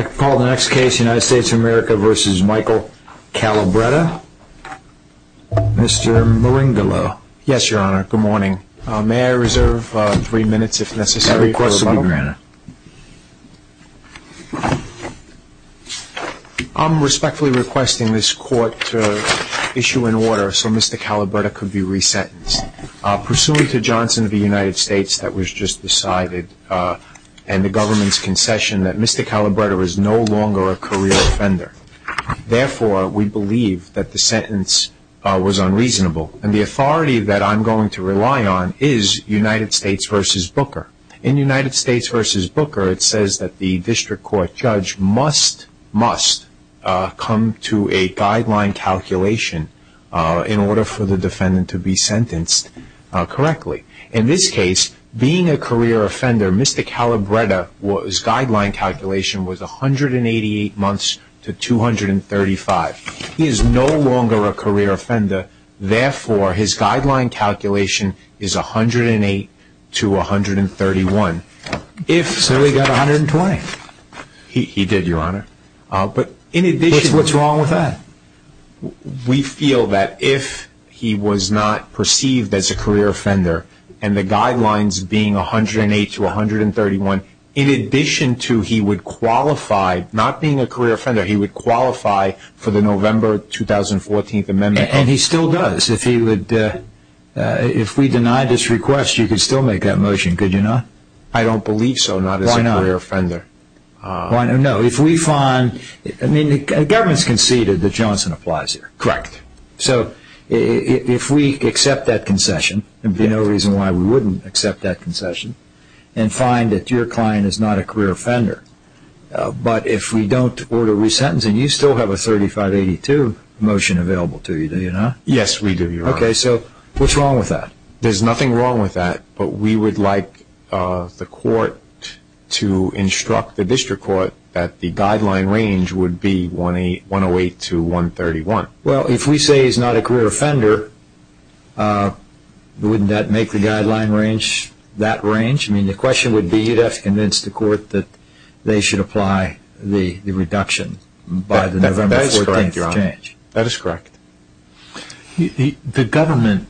I am respectfully requesting this court to issue an order so Mr. Calabretta can be re-sentenced. Pursuant to Johnson v. United States that was just decided and the government's concession that Mr. Calabretta is no longer a career offender. Therefore we believe that the sentence was unreasonable. And the authority that I am going to rely on is United States v. Booker. In United States v. Booker it says that the district court judge must, must come to a guideline calculation in order for the defendant to be sentenced correctly. In this case being a career offender Mr. Calabretta's guideline calculation was 188 months to 235. He is no longer a career offender therefore his guideline calculation is 108 to 131. So he got 120? He did your honor. What's wrong with that? We feel that if he was not perceived as a career offender and the guidelines being 108 to 131 in addition to he would qualify, not being a career offender, he would qualify for the November 2014 amendment. And he still does. If we deny this request you could still make that motion could you not? I don't believe so not as a career offender. I don't know if we find, I mean the government has conceded that Johnson applies here. Correct. So if we accept that concession there would be no reason why we wouldn't accept that concession and find that your client is not a career offender. But if we don't order resentencing you still have a 3582 motion available to you do you not? Yes we do your honor. Okay so what's wrong with that? There's nothing wrong with that but we would like the court to instruct the district court that the guideline range would be 108 to 131. Well if we say he's not a career offender wouldn't that make the guideline range that range? I mean the question would be you'd have to convince the court that they should apply the reduction by the November 14th change. That is correct your honor. That is correct. The government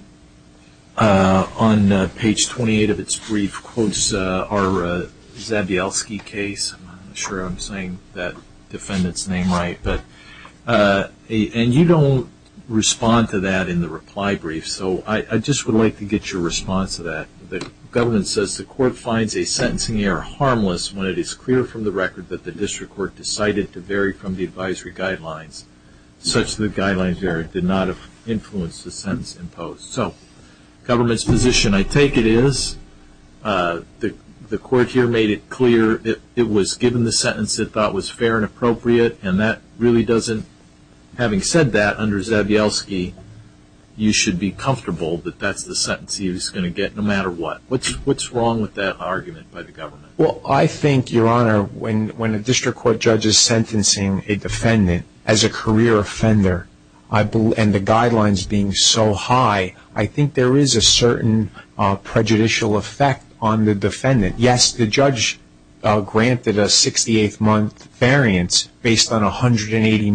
on page 28 of its brief quotes our Zabielski case. I'm not sure I'm saying that defendant's name right. And you don't respond to that in the reply brief so I just would like to get your response to that. The government says the court finds a sentencing error harmless when it is clear from the record that the district court decided to vary from the advisory guidelines such that the guideline error did not influence the sentence imposed. So government's position I take it is the court here made it clear it was given the sentence it thought was fair and appropriate and that really doesn't having said that under Zabielski you should be comfortable that that's the sentence he was going to get no matter what. What's wrong with that argument by the government? Well I think your honor when a district court judge is sentencing a defendant as a career offender and the guidelines being so high I think there is a certain prejudicial effect on the defendant. Yes the judge granted a 68 month variance based on a 188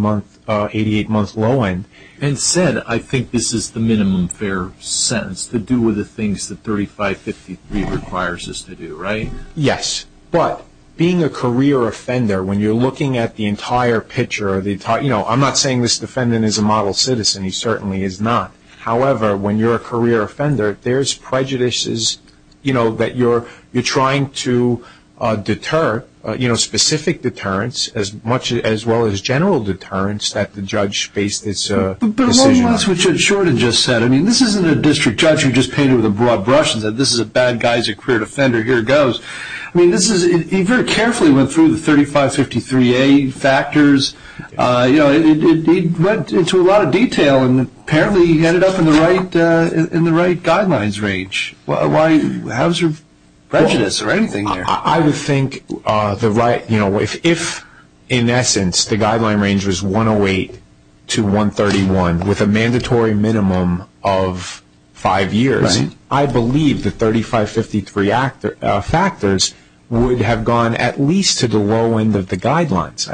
month low end. And said I think this is the minimum fair sentence to do with the things that 3553 requires us to do right? Yes but being a career offender when you're looking at the entire picture you know I'm not saying this defendant is a model citizen he certainly is not. However when you're a career offender there's prejudices you know that you're trying to deter you know specific deterrence as much as well as general deterrence that the judge faced this decision on. But what about what Judge Shorten just said? I mean this isn't a district judge who just painted with a broad brush and said this is a bad guy as a career offender here it goes. I mean this is he very carefully went through the 3553A factors you know he went into a lot of detail and apparently he ended up in the right guidelines range. Why how's your prejudice or anything there? I would think if in essence the guideline range was 108 to 131 with a mandatory minimum of 5 years I believe the 3553A factors would have gone at least to the low end of the guidelines.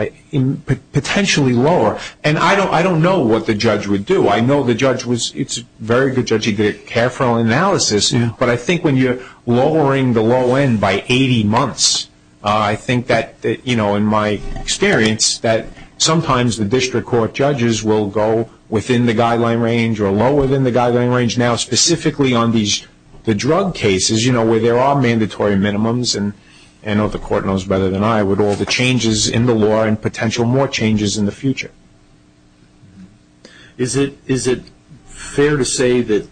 Potentially lower and I don't know what the judge would do. I know the judge was it's a very good judge he did a careful analysis but I think when you're lowering the low end by 80 months I think that you know in my experience that sometimes the district court judges will go within the guideline range or lower than the guideline range now specifically on these the drug cases you know where there are mandatory minimums and I know the court knows better than I with all the changes in the law and potential more changes in the future. Is it fair to say that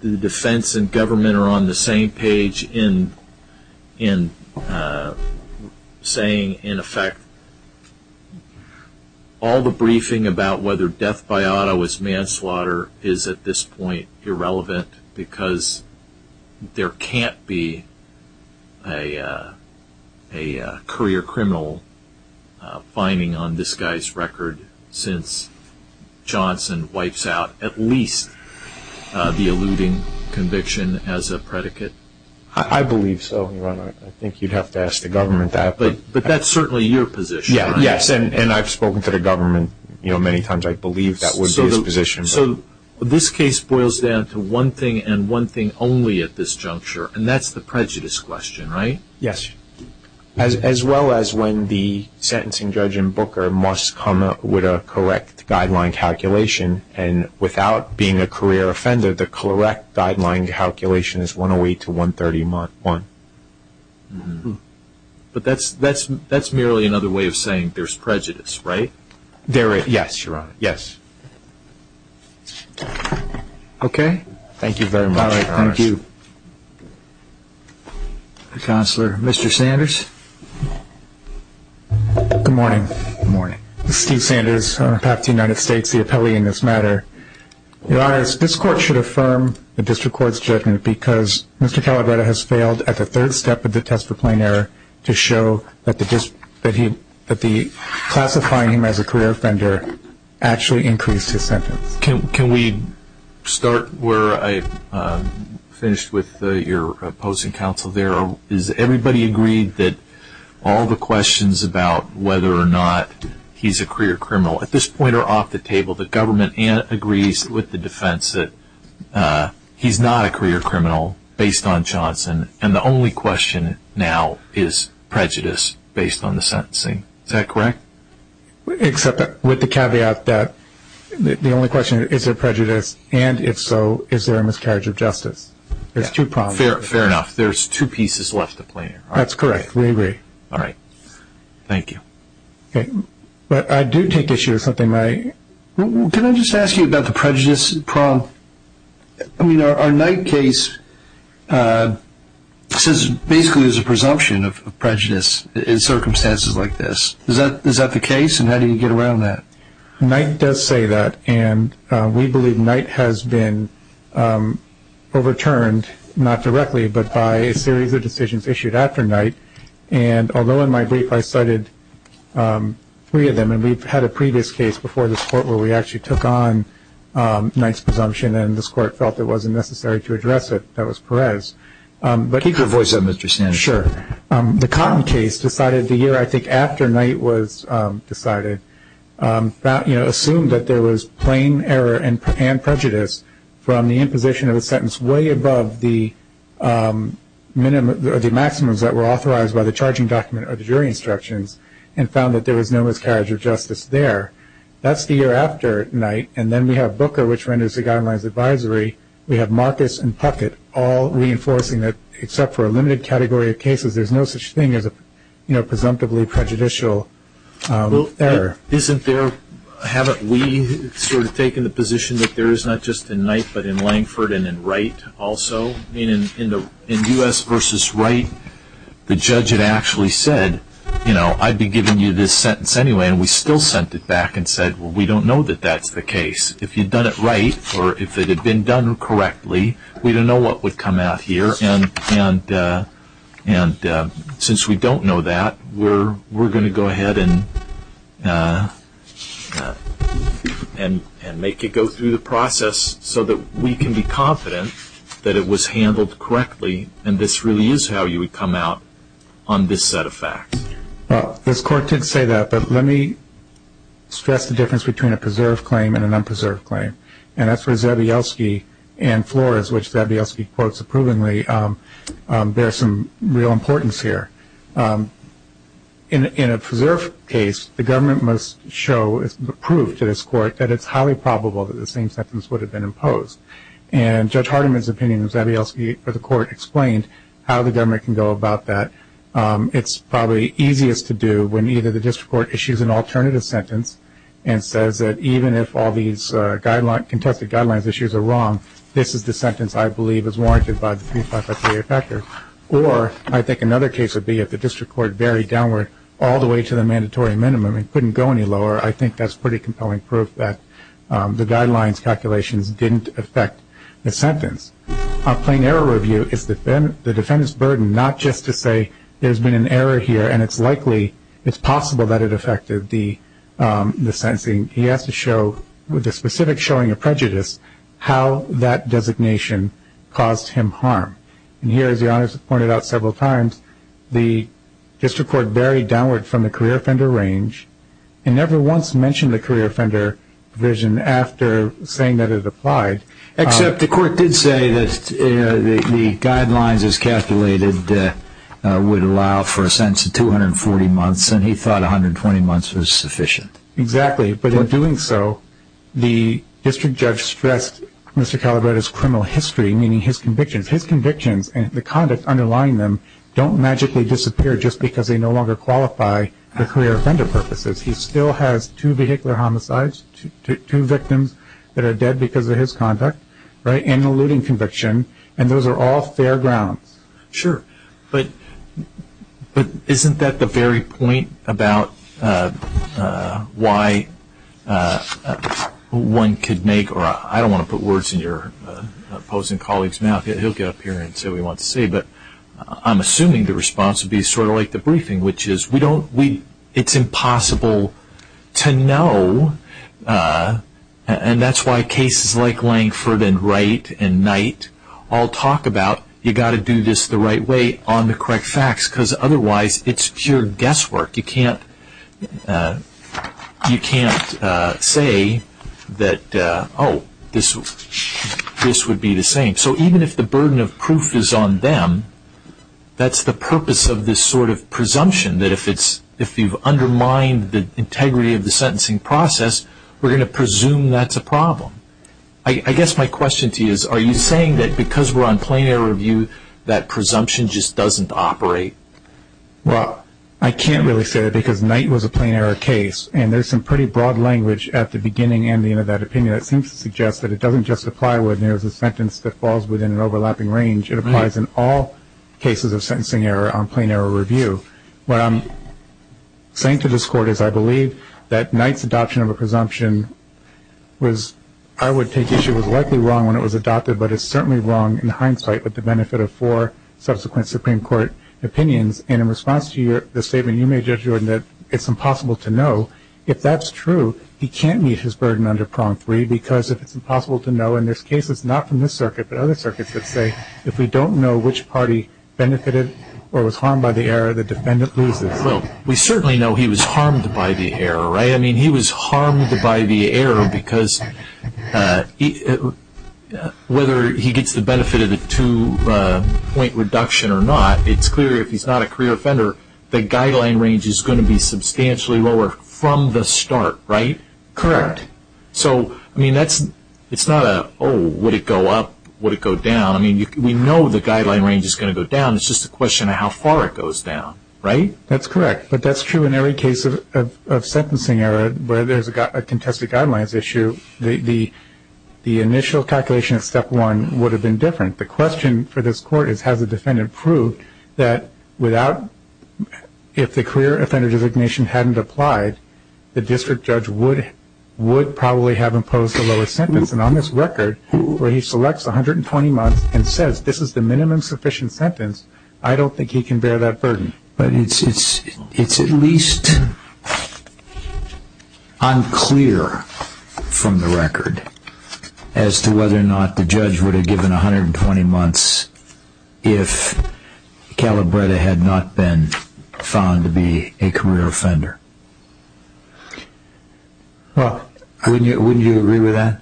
the defense and government are on the same page in saying in effect all the briefing about whether death by auto is manslaughter is at this point irrelevant because there can't be a career criminal finding on this guy's record since Johnson wipes out at least the alluding conviction as a predicate? I believe so. I think you'd have to ask the government that. But that's certainly your position. Yes and I've spoken to the government you know many times I believe that would be his position. So this case boils down to one thing and one thing only at this juncture and that's the prejudice question right? Yes as well as when the sentencing judge in Booker must come up with a correct guideline calculation and without being a career offender the correct guideline calculation is 108 to 131. But that's merely another way of saying there's prejudice right? Yes Your Honor. Yes. Okay. Thank you very much Your Honor. Thank you. Counselor, Mr. Sanders. Good morning. Good morning. Steve Sanders, Attorney General of the United States, the appellee in this matter. Your Honor, this court should affirm the district court's judgment because Mr. Calabretta has failed at the third step of the test for plain error to show that the classifying him as a career offender actually increased his sentence. Can we start where I finished with your opposing counsel there? Is everybody agreed that all the questions about whether or not he's a career criminal at this point are off the table? The government agrees with the defense that he's not a career criminal based on Johnson and the only question now is prejudice based on the sentencing. Is that correct? Except that with the caveat that the only question is there prejudice and if so is there a miscarriage of justice? There's two problems. Fair enough. There's two pieces left to play. That's correct. We agree. All right. Thank you. But I do take issue with something. Can I just ask you about the prejudice problem? I mean our Knight case says basically there's a presumption of prejudice in circumstances like this. Is that the case and how do you get around that? Knight does say that and we believe Knight has been overturned, not directly, but by a series of decisions issued after Knight. And although in my brief I cited three of them, and we've had a previous case before this court where we actually took on Knight's presumption and this court felt it wasn't necessary to address it, that was Perez. Keep your voice up, Mr. Sandberg. Sure. The Cotton case decided the year I think after Knight was decided, assumed that there was plain error and prejudice from the imposition of a sentence way above the maximums that were authorized by the charging document or the jury instructions and found that there was no miscarriage of justice there. That's the year after Knight. And then we have Booker, which renders the guidelines advisory. We have Marcus and Puckett all reinforcing that except for a limited category of cases, there's no such thing as a presumptively prejudicial error. Isn't there, haven't we sort of taken the position that there is not just in Knight but in Langford and in Wright also? I mean, in U.S. v. Wright, the judge had actually said, you know, I'd be giving you this sentence anyway, and we still sent it back and said, well, we don't know that that's the case. If you'd done it right or if it had been done correctly, we don't know what would come out here. And since we don't know that, we're going to go ahead and make it go through the process so that we can be confident that it was handled correctly and this really is how you would come out on this set of facts. Well, this Court did say that, but let me stress the difference between a preserved claim and an unpreserved claim. And that's where Zabielski and Flores, which Zabielski quotes approvingly, bear some real importance here. In a preserved case, the government must show, prove to this Court, that it's highly probable that the same sentence would have been imposed. And Judge Hardiman's opinion of Zabielski for the Court explained how the government can go about that. It's probably easiest to do when either the district court issues an alternative sentence and says that even if all these contested guidelines issues are wrong, this is the sentence I believe is warranted by the 3558 factor. Or I think another case would be if the district court varied downward all the way to the mandatory minimum and couldn't go any lower. I think that's pretty compelling proof that the guidelines calculations didn't affect the sentence. A plain error review is the defendant's burden, not just to say there's been an error here and it's likely, it's possible that it affected the sentencing. He has to show, with a specific showing of prejudice, how that designation caused him harm. And here, as the Honor's pointed out several times, the district court varied downward from the career offender range and never once mentioned the career offender provision after saying that it applied. Except the Court did say that the guidelines as calculated would allow for a sentence of 240 months, and he thought 120 months was sufficient. Exactly. But in doing so, the district judge stressed Mr. Calabretta's criminal history, meaning his convictions. His convictions and the conduct underlying them don't magically disappear just because they no longer qualify the career offender purposes. He still has two vehicular homicides, two victims that are dead because of his conduct, right, and an eluding conviction, and those are all fair grounds. Sure, but isn't that the very point about why one could make, or I don't want to put words in your opposing colleague's mouth, he'll get up here and say what he wants to say, but I'm assuming the response would be sort of like the briefing, which is it's impossible to know, and that's why cases like Langford and Wright and Knight all talk about you've got to do this the right way on the correct facts, because otherwise it's pure guesswork. You can't say that, oh, this would be the same. So even if the burden of proof is on them, that's the purpose of this sort of presumption, that if you've undermined the integrity of the sentencing process, we're going to presume that's a problem. I guess my question to you is are you saying that because we're on plain error review, that presumption just doesn't operate? Well, I can't really say that because Knight was a plain error case, and there's some pretty broad language at the beginning and the end of that opinion that seems to suggest that it doesn't just apply when there's a sentence that falls within an overlapping range. It applies in all cases of sentencing error on plain error review. What I'm saying to this Court is I believe that Knight's adoption of a presumption was, I would take issue, was likely wrong when it was adopted, but it's certainly wrong in hindsight with the benefit of four subsequent Supreme Court opinions. And in response to the statement you made, Judge Jordan, that it's impossible to know, if that's true, he can't meet his burden under prong three, because if it's impossible to know, in this case it's not from this circuit but other circuits that say if we don't know which party benefited or was harmed by the error, the defendant loses. Well, we certainly know he was harmed by the error, right? I mean, he was harmed by the error because whether he gets the benefit of the two-point reduction or not, it's clear if he's not a career offender, the guideline range is going to be substantially lower from the start, right? Correct. So, I mean, it's not a, oh, would it go up, would it go down? I mean, we know the guideline range is going to go down. It's just a question of how far it goes down, right? That's correct. But that's true in every case of sentencing error where there's a contested guidelines issue. The initial calculation of step one would have been different. The question for this Court is has the defendant proved that without, if the career offender designation hadn't applied, the district judge would probably have imposed a lower sentence. And on this record where he selects 120 months and says this is the minimum sufficient sentence, I don't think he can bear that burden. But it's at least unclear from the record as to whether or not the judge would have given 120 months if Calabretta had not been found to be a career offender. Well, wouldn't you agree with that?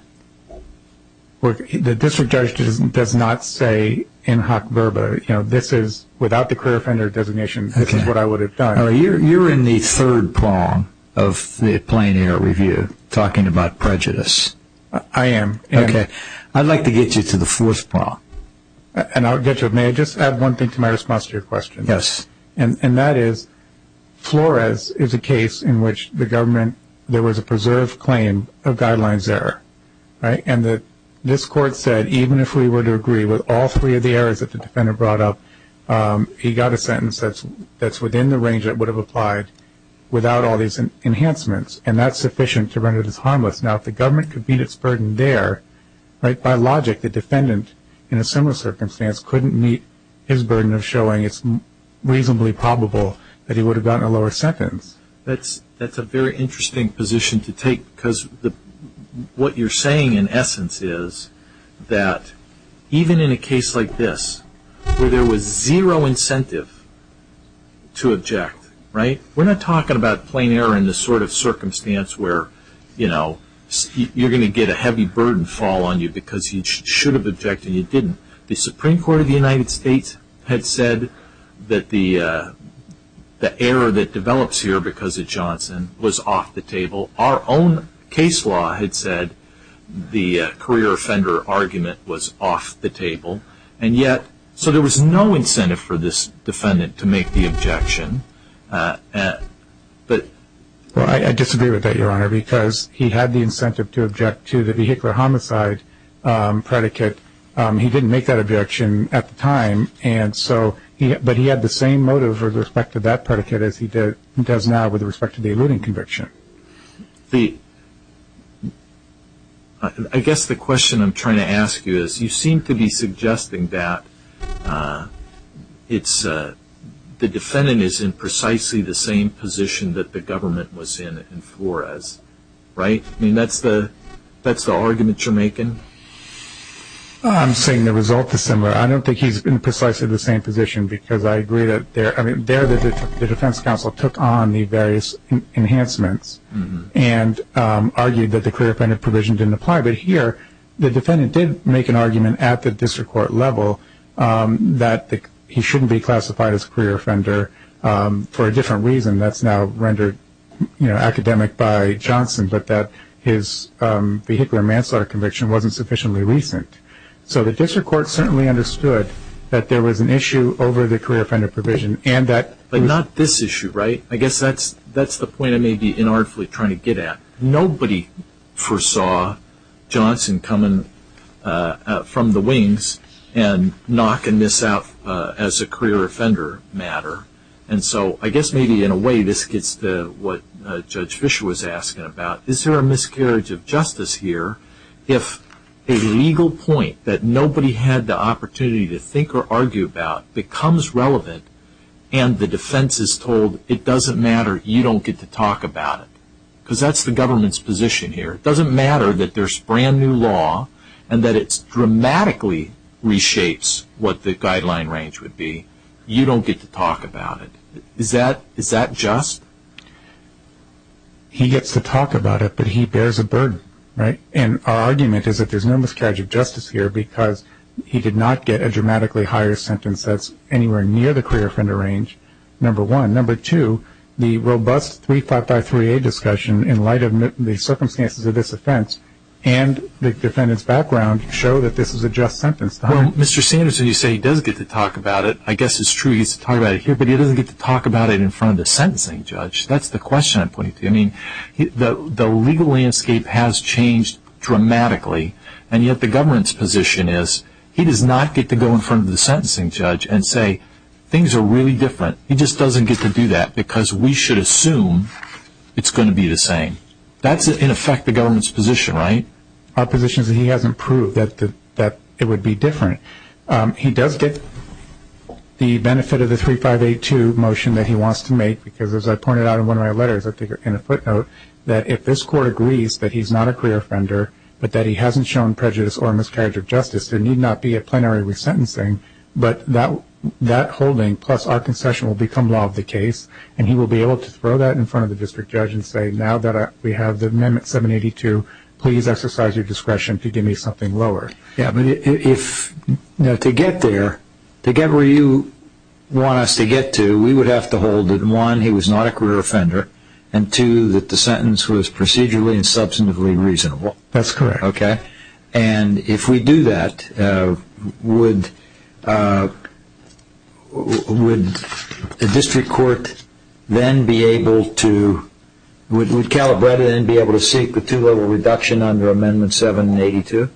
The district judge does not say in hoc verba, you know, this is without the career offender designation this is what I would have done. You're in the third prong of the plain error review talking about prejudice. I am. Okay. I'd like to get you to the fourth prong. And I'll get to it. May I just add one thing to my response to your question? Yes. And that is Flores is a case in which the government, there was a preserved claim of guidelines error. And this Court said even if we were to agree with all three of the errors that the defendant brought up, he got a sentence that's within the range that would have applied without all these enhancements, and that's sufficient to render this harmless. Now, if the government could meet its burden there, by logic, the defendant in a similar circumstance couldn't meet his burden of showing it's reasonably probable that he would have gotten a lower sentence. That's a very interesting position to take because what you're saying, in essence, is that even in a case like this where there was zero incentive to object, right, we're not talking about plain error in this sort of circumstance where, you know, you're going to get a heavy burden fall on you because you should have objected and you didn't. The Supreme Court of the United States had said that the error that develops here because of Johnson was off the table. Our own case law had said the career offender argument was off the table. And yet, so there was no incentive for this defendant to make the objection. Well, I disagree with that, Your Honor, because he had the incentive to object to the vehicular homicide predicate. He didn't make that objection at the time, but he had the same motive with respect to that predicate as he does now with respect to the alluding conviction. I guess the question I'm trying to ask you is, you seem to be suggesting that the defendant is in precisely the same position that the government was in in Flores, right? I mean, that's the argument you're making? I'm saying the result is similar. I don't think he's in precisely the same position because I agree that there the defense counsel took on the various enhancements and argued that the career offender provision didn't apply. But here, the defendant did make an argument at the district court level that he shouldn't be classified as a career offender for a different reason that's now rendered academic by Johnson, but that his vehicular manslaughter conviction wasn't sufficiently recent. So the district court certainly understood that there was an issue over the career offender provision. But not this issue, right? I guess that's the point I may be inartfully trying to get at. Nobody foresaw Johnson coming from the wings and knocking this out as a career offender matter. And so I guess maybe in a way this gets to what Judge Fischer was asking about. Is there a miscarriage of justice here if a legal point that nobody had the opportunity to think or argue about becomes relevant and the defense is told it doesn't matter, you don't get to talk about it? Because that's the government's position here. It doesn't matter that there's brand new law and that it dramatically reshapes what the guideline range would be. You don't get to talk about it. Is that just? He gets to talk about it, but he bears a burden, right? And our argument is that there's no miscarriage of justice here because he did not get a dramatically higher sentence that's anywhere near the career offender range, number one. Number two, the robust 3553A discussion in light of the circumstances of this offense and the defendant's background show that this is a just sentence. Well, Mr. Sanderson, you say he does get to talk about it. I guess it's true he gets to talk about it here, but he doesn't get to talk about it in front of the sentencing judge. That's the question I'm pointing to. I mean, the legal landscape has changed dramatically, and yet the government's position is he does not get to go in front of the sentencing judge and say, things are really different. He just doesn't get to do that because we should assume it's going to be the same. That's, in effect, the government's position, right? Our position is that he hasn't proved that it would be different. He does get the benefit of the 3582 motion that he wants to make because, as I pointed out in one of my letters, I think in a footnote, that if this court agrees that he's not a career offender but that he hasn't shown prejudice or miscarriage of justice, there need not be a plenary resentencing, but that holding plus our concession will become law of the case, and he will be able to throw that in front of the district judge and say, now that we have the Amendment 782, please exercise your discretion to give me something lower. Yeah, but to get there, to get where you want us to get to, we would have to hold that, one, he was not a career offender, and, two, that the sentence was procedurally and substantively reasonable. That's correct. Okay. And if we do that, would the district court then be able to seek the two-level reduction under Amendment 782?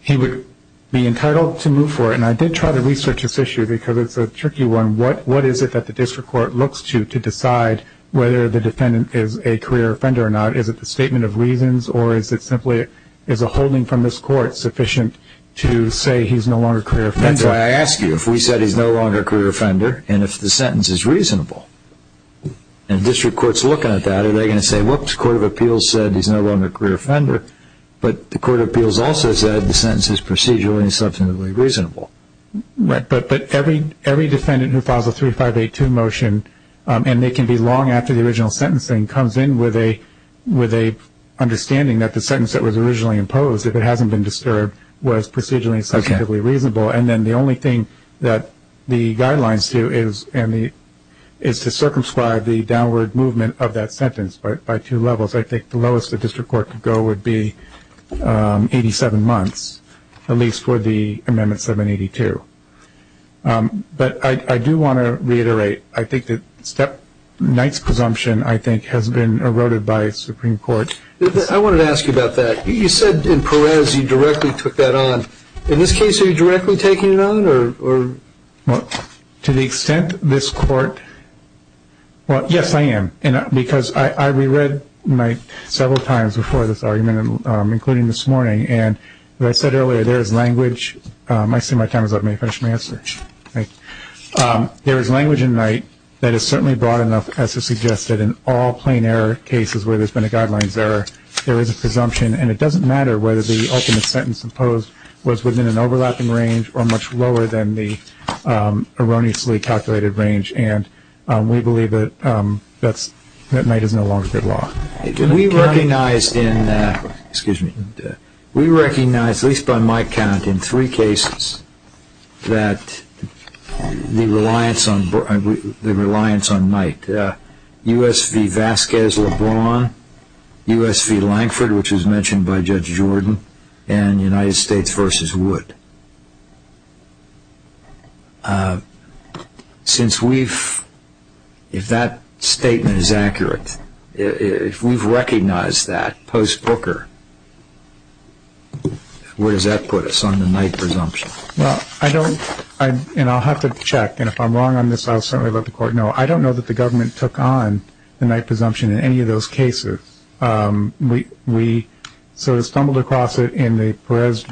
He would be entitled to move for it, and I did try to research this issue because it's a tricky one. What is it that the district court looks to to decide whether the defendant is a career offender or not? Is it the statement of reasons, or is it simply is a holding from this court sufficient to say he's no longer a career offender? That's why I ask you, if we said he's no longer a career offender, and if the sentence is reasonable, and the district court is looking at that, are they going to say, whoops, the Court of Appeals said he's no longer a career offender, but the Court of Appeals also said the sentence is procedurally and substantively reasonable. Right, but every defendant who files a 3582 motion, and they can be long after the original sentencing, comes in with an understanding that the sentence that was originally imposed, if it hasn't been disturbed, was procedurally and substantively reasonable. Okay. And then the only thing that the guidelines do is to circumscribe the downward movement of that sentence by two levels. I think the lowest the district court could go would be 87 months, at least for the Amendment 782. But I do want to reiterate, I think that Knight's presumption, I think, has been eroded by Supreme Court. I wanted to ask you about that. You said in Perez you directly took that on. In this case, are you directly taking it on, or? Well, to the extent this court – well, yes, I am, because I reread several times before this argument, including this morning, and as I said earlier, there is language. I see my time is up. May I finish my answer? Okay. There is language in Knight that is certainly broad enough as to suggest that in all plain error cases where there's been a guidelines error, there is a presumption, and it doesn't matter whether the ultimate sentence imposed was within an overlapping range or much lower than the erroneously calculated range, and we believe that Knight is no longer good law. We recognize, at least by my count, in three cases that the reliance on Knight – US v. Vasquez-Lebron, US v. Lankford, which was mentioned by Judge Jordan, and United States v. Wood. Since we've – if that statement is accurate, if we've recognized that post-Brooker, where does that put us on the Knight presumption? Well, I don't – and I'll have to check, and if I'm wrong on this, I'll certainly let the court know. I don't know that the government took on the Knight presumption in any of those cases. We sort of stumbled across it in the Perez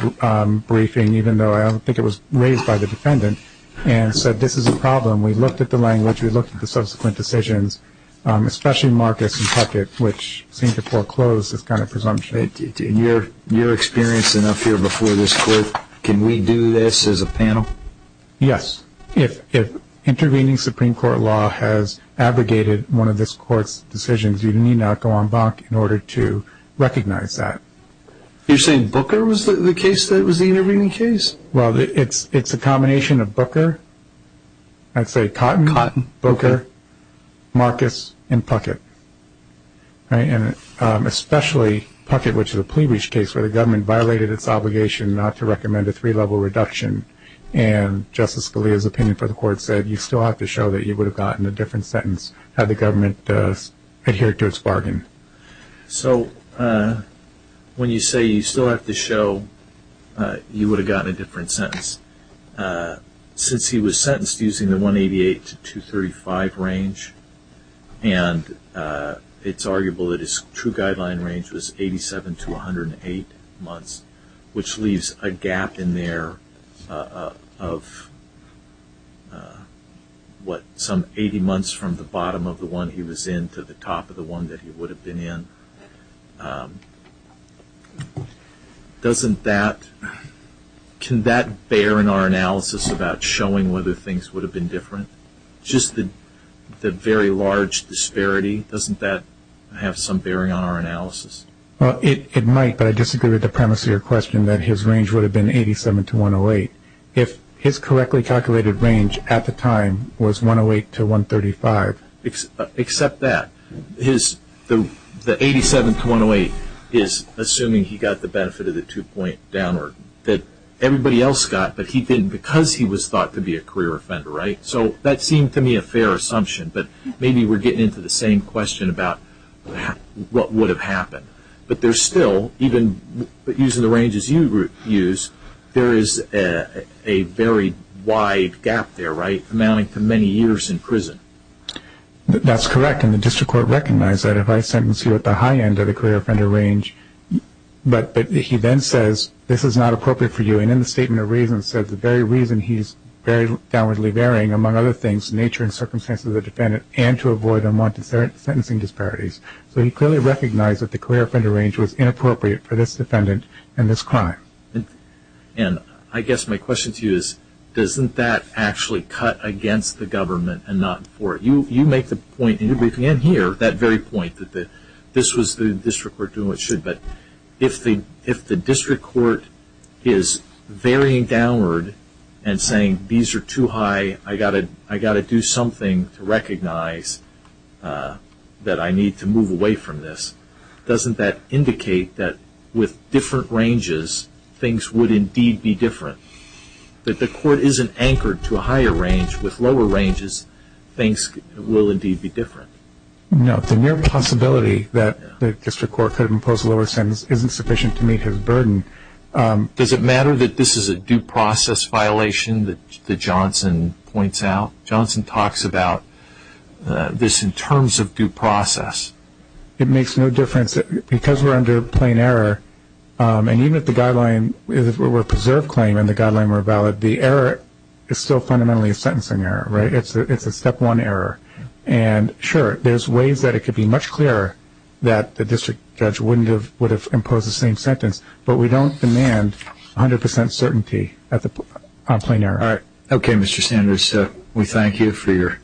briefing, even though I don't think it was raised by the defendant, and said this is a problem. We looked at the language. We looked at the subsequent decisions, especially Marcus and Puckett, which seemed to foreclose this kind of presumption. In your experience enough here before this court, can we do this as a panel? Yes. If intervening Supreme Court law has abrogated one of this court's decisions, you need not go en banc in order to recognize that. You're saying Booker was the case that was the intervening case? Well, it's a combination of Booker. I'd say Cotton, Booker, Marcus, and Puckett. And especially Puckett, which is a plea reach case where the government violated its obligation not to recommend a three-level reduction, and Justice Scalia's opinion for the court said you still have to show that you would have gotten a different sentence had the government adhered to its bargain. So when you say you still have to show you would have gotten a different sentence, since he was sentenced using the 188 to 235 range, and it's arguable that his true guideline range was 87 to 108 months, which leaves a gap in there of what, some 80 months from the bottom of the one he was in to the top of the one that he would have been in. Doesn't that, can that bear in our analysis about showing whether things would have been different? Just the very large disparity, doesn't that have some bearing on our analysis? Well, it might, but I disagree with the premise of your question that his range would have been 87 to 108. If his correctly calculated range at the time was 108 to 135. Except that, the 87 to 108 is assuming he got the benefit of the two-point downward that everybody else got, but he didn't because he was thought to be a career offender, right? So that seemed to me a fair assumption, but maybe we're getting into the same question about what would have happened. But there's still, even using the ranges you use, there is a very wide gap there, right, amounting to many years in prison. That's correct, and the district court recognized that if I sentence you at the high end of the career offender range, but he then says this is not appropriate for you, and in the statement of reasons said the very reason he's very downwardly varying, among other things, the nature and circumstances of the defendant, and to avoid unwanted sentencing disparities. So he clearly recognized that the career offender range was inappropriate for this defendant and this crime. And I guess my question to you is, doesn't that actually cut against the government and not for it? You make the point, and you're briefing in here, that very point, that this was the district court doing what it should, but if the district court is varying downward and saying these are too high, I've got to do something to recognize that I need to move away from this, doesn't that indicate that with different ranges, things would indeed be different? If the court isn't anchored to a higher range, with lower ranges, things will indeed be different. No, the mere possibility that the district court could impose a lower sentence isn't sufficient to meet his burden. Does it matter that this is a due process violation that Johnson points out? Johnson talks about this in terms of due process. It makes no difference. Because we're under plain error, and even if the guideline were a preserved claim and the guideline were valid, the error is still fundamentally a sentencing error. It's a step one error. And, sure, there's ways that it could be much clearer that the district judge would have imposed the same sentence, but we don't demand 100 percent certainty on plain error. All right. Okay, Mr. Sanders, we thank you for your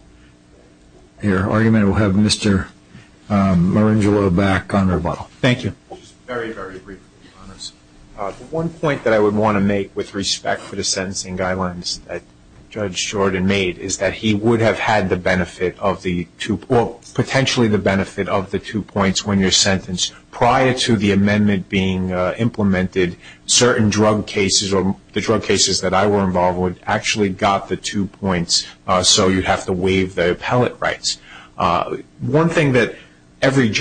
argument. We'll have Mr. Marangelo back on rebuttal. Thank you. Just very, very briefly on this. The one point that I would want to make with respect for the sentencing guidelines that Judge Shorten made is that he would have had the benefit of the two points when you're sentenced. Prior to the amendment being implemented, certain drug cases or the drug cases that I were involved with actually got the two points, so you'd have to waive the appellate rights. One thing that every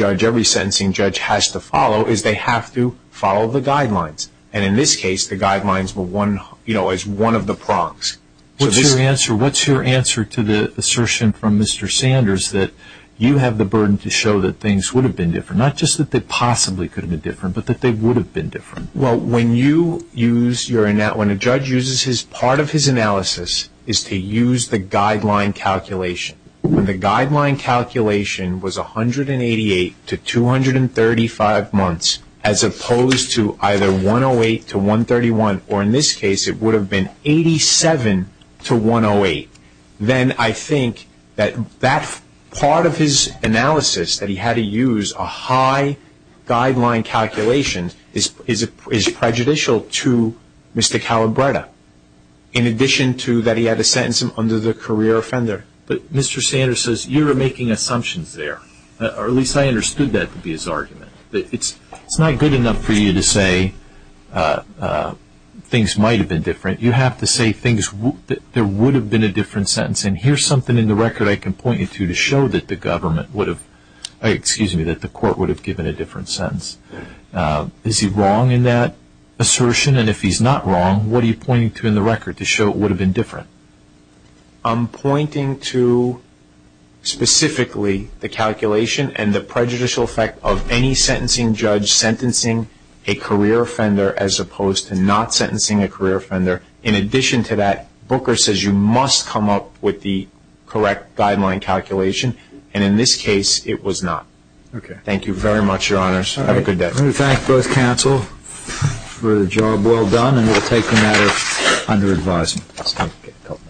sentencing judge has to follow is they have to follow the guidelines. And in this case, the guidelines were one of the prongs. What's your answer to the assertion from Mr. Sanders that you have the burden to show that things would have been different, not just that they possibly could have been different, but that they would have been different? Well, when a judge uses his part of his analysis is to use the guideline calculation. When the guideline calculation was 188 to 235 months, as opposed to either 108 to 131, or in this case it would have been 87 to 108, then I think that that part of his analysis, that he had to use a high guideline calculation, is prejudicial to Mr. Calabretta, in addition to that he had to sentence him under the career offender. But Mr. Sanders says you were making assumptions there, or at least I understood that to be his argument. It's not good enough for you to say things might have been different. You have to say there would have been a different sentence, and here's something in the record I can point you to to show that the court would have given a different sentence. Is he wrong in that assertion? And if he's not wrong, what are you pointing to in the record to show it would have been different? I'm pointing to specifically the calculation and the prejudicial effect of any sentencing judge sentencing a career offender as opposed to not sentencing a career offender. In addition to that, Booker says you must come up with the correct guideline calculation, and in this case it was not. Okay. Thank you very much, Your Honors. Have a good day. I want to thank both counsel for the job well done, and we'll take a matter under advisement.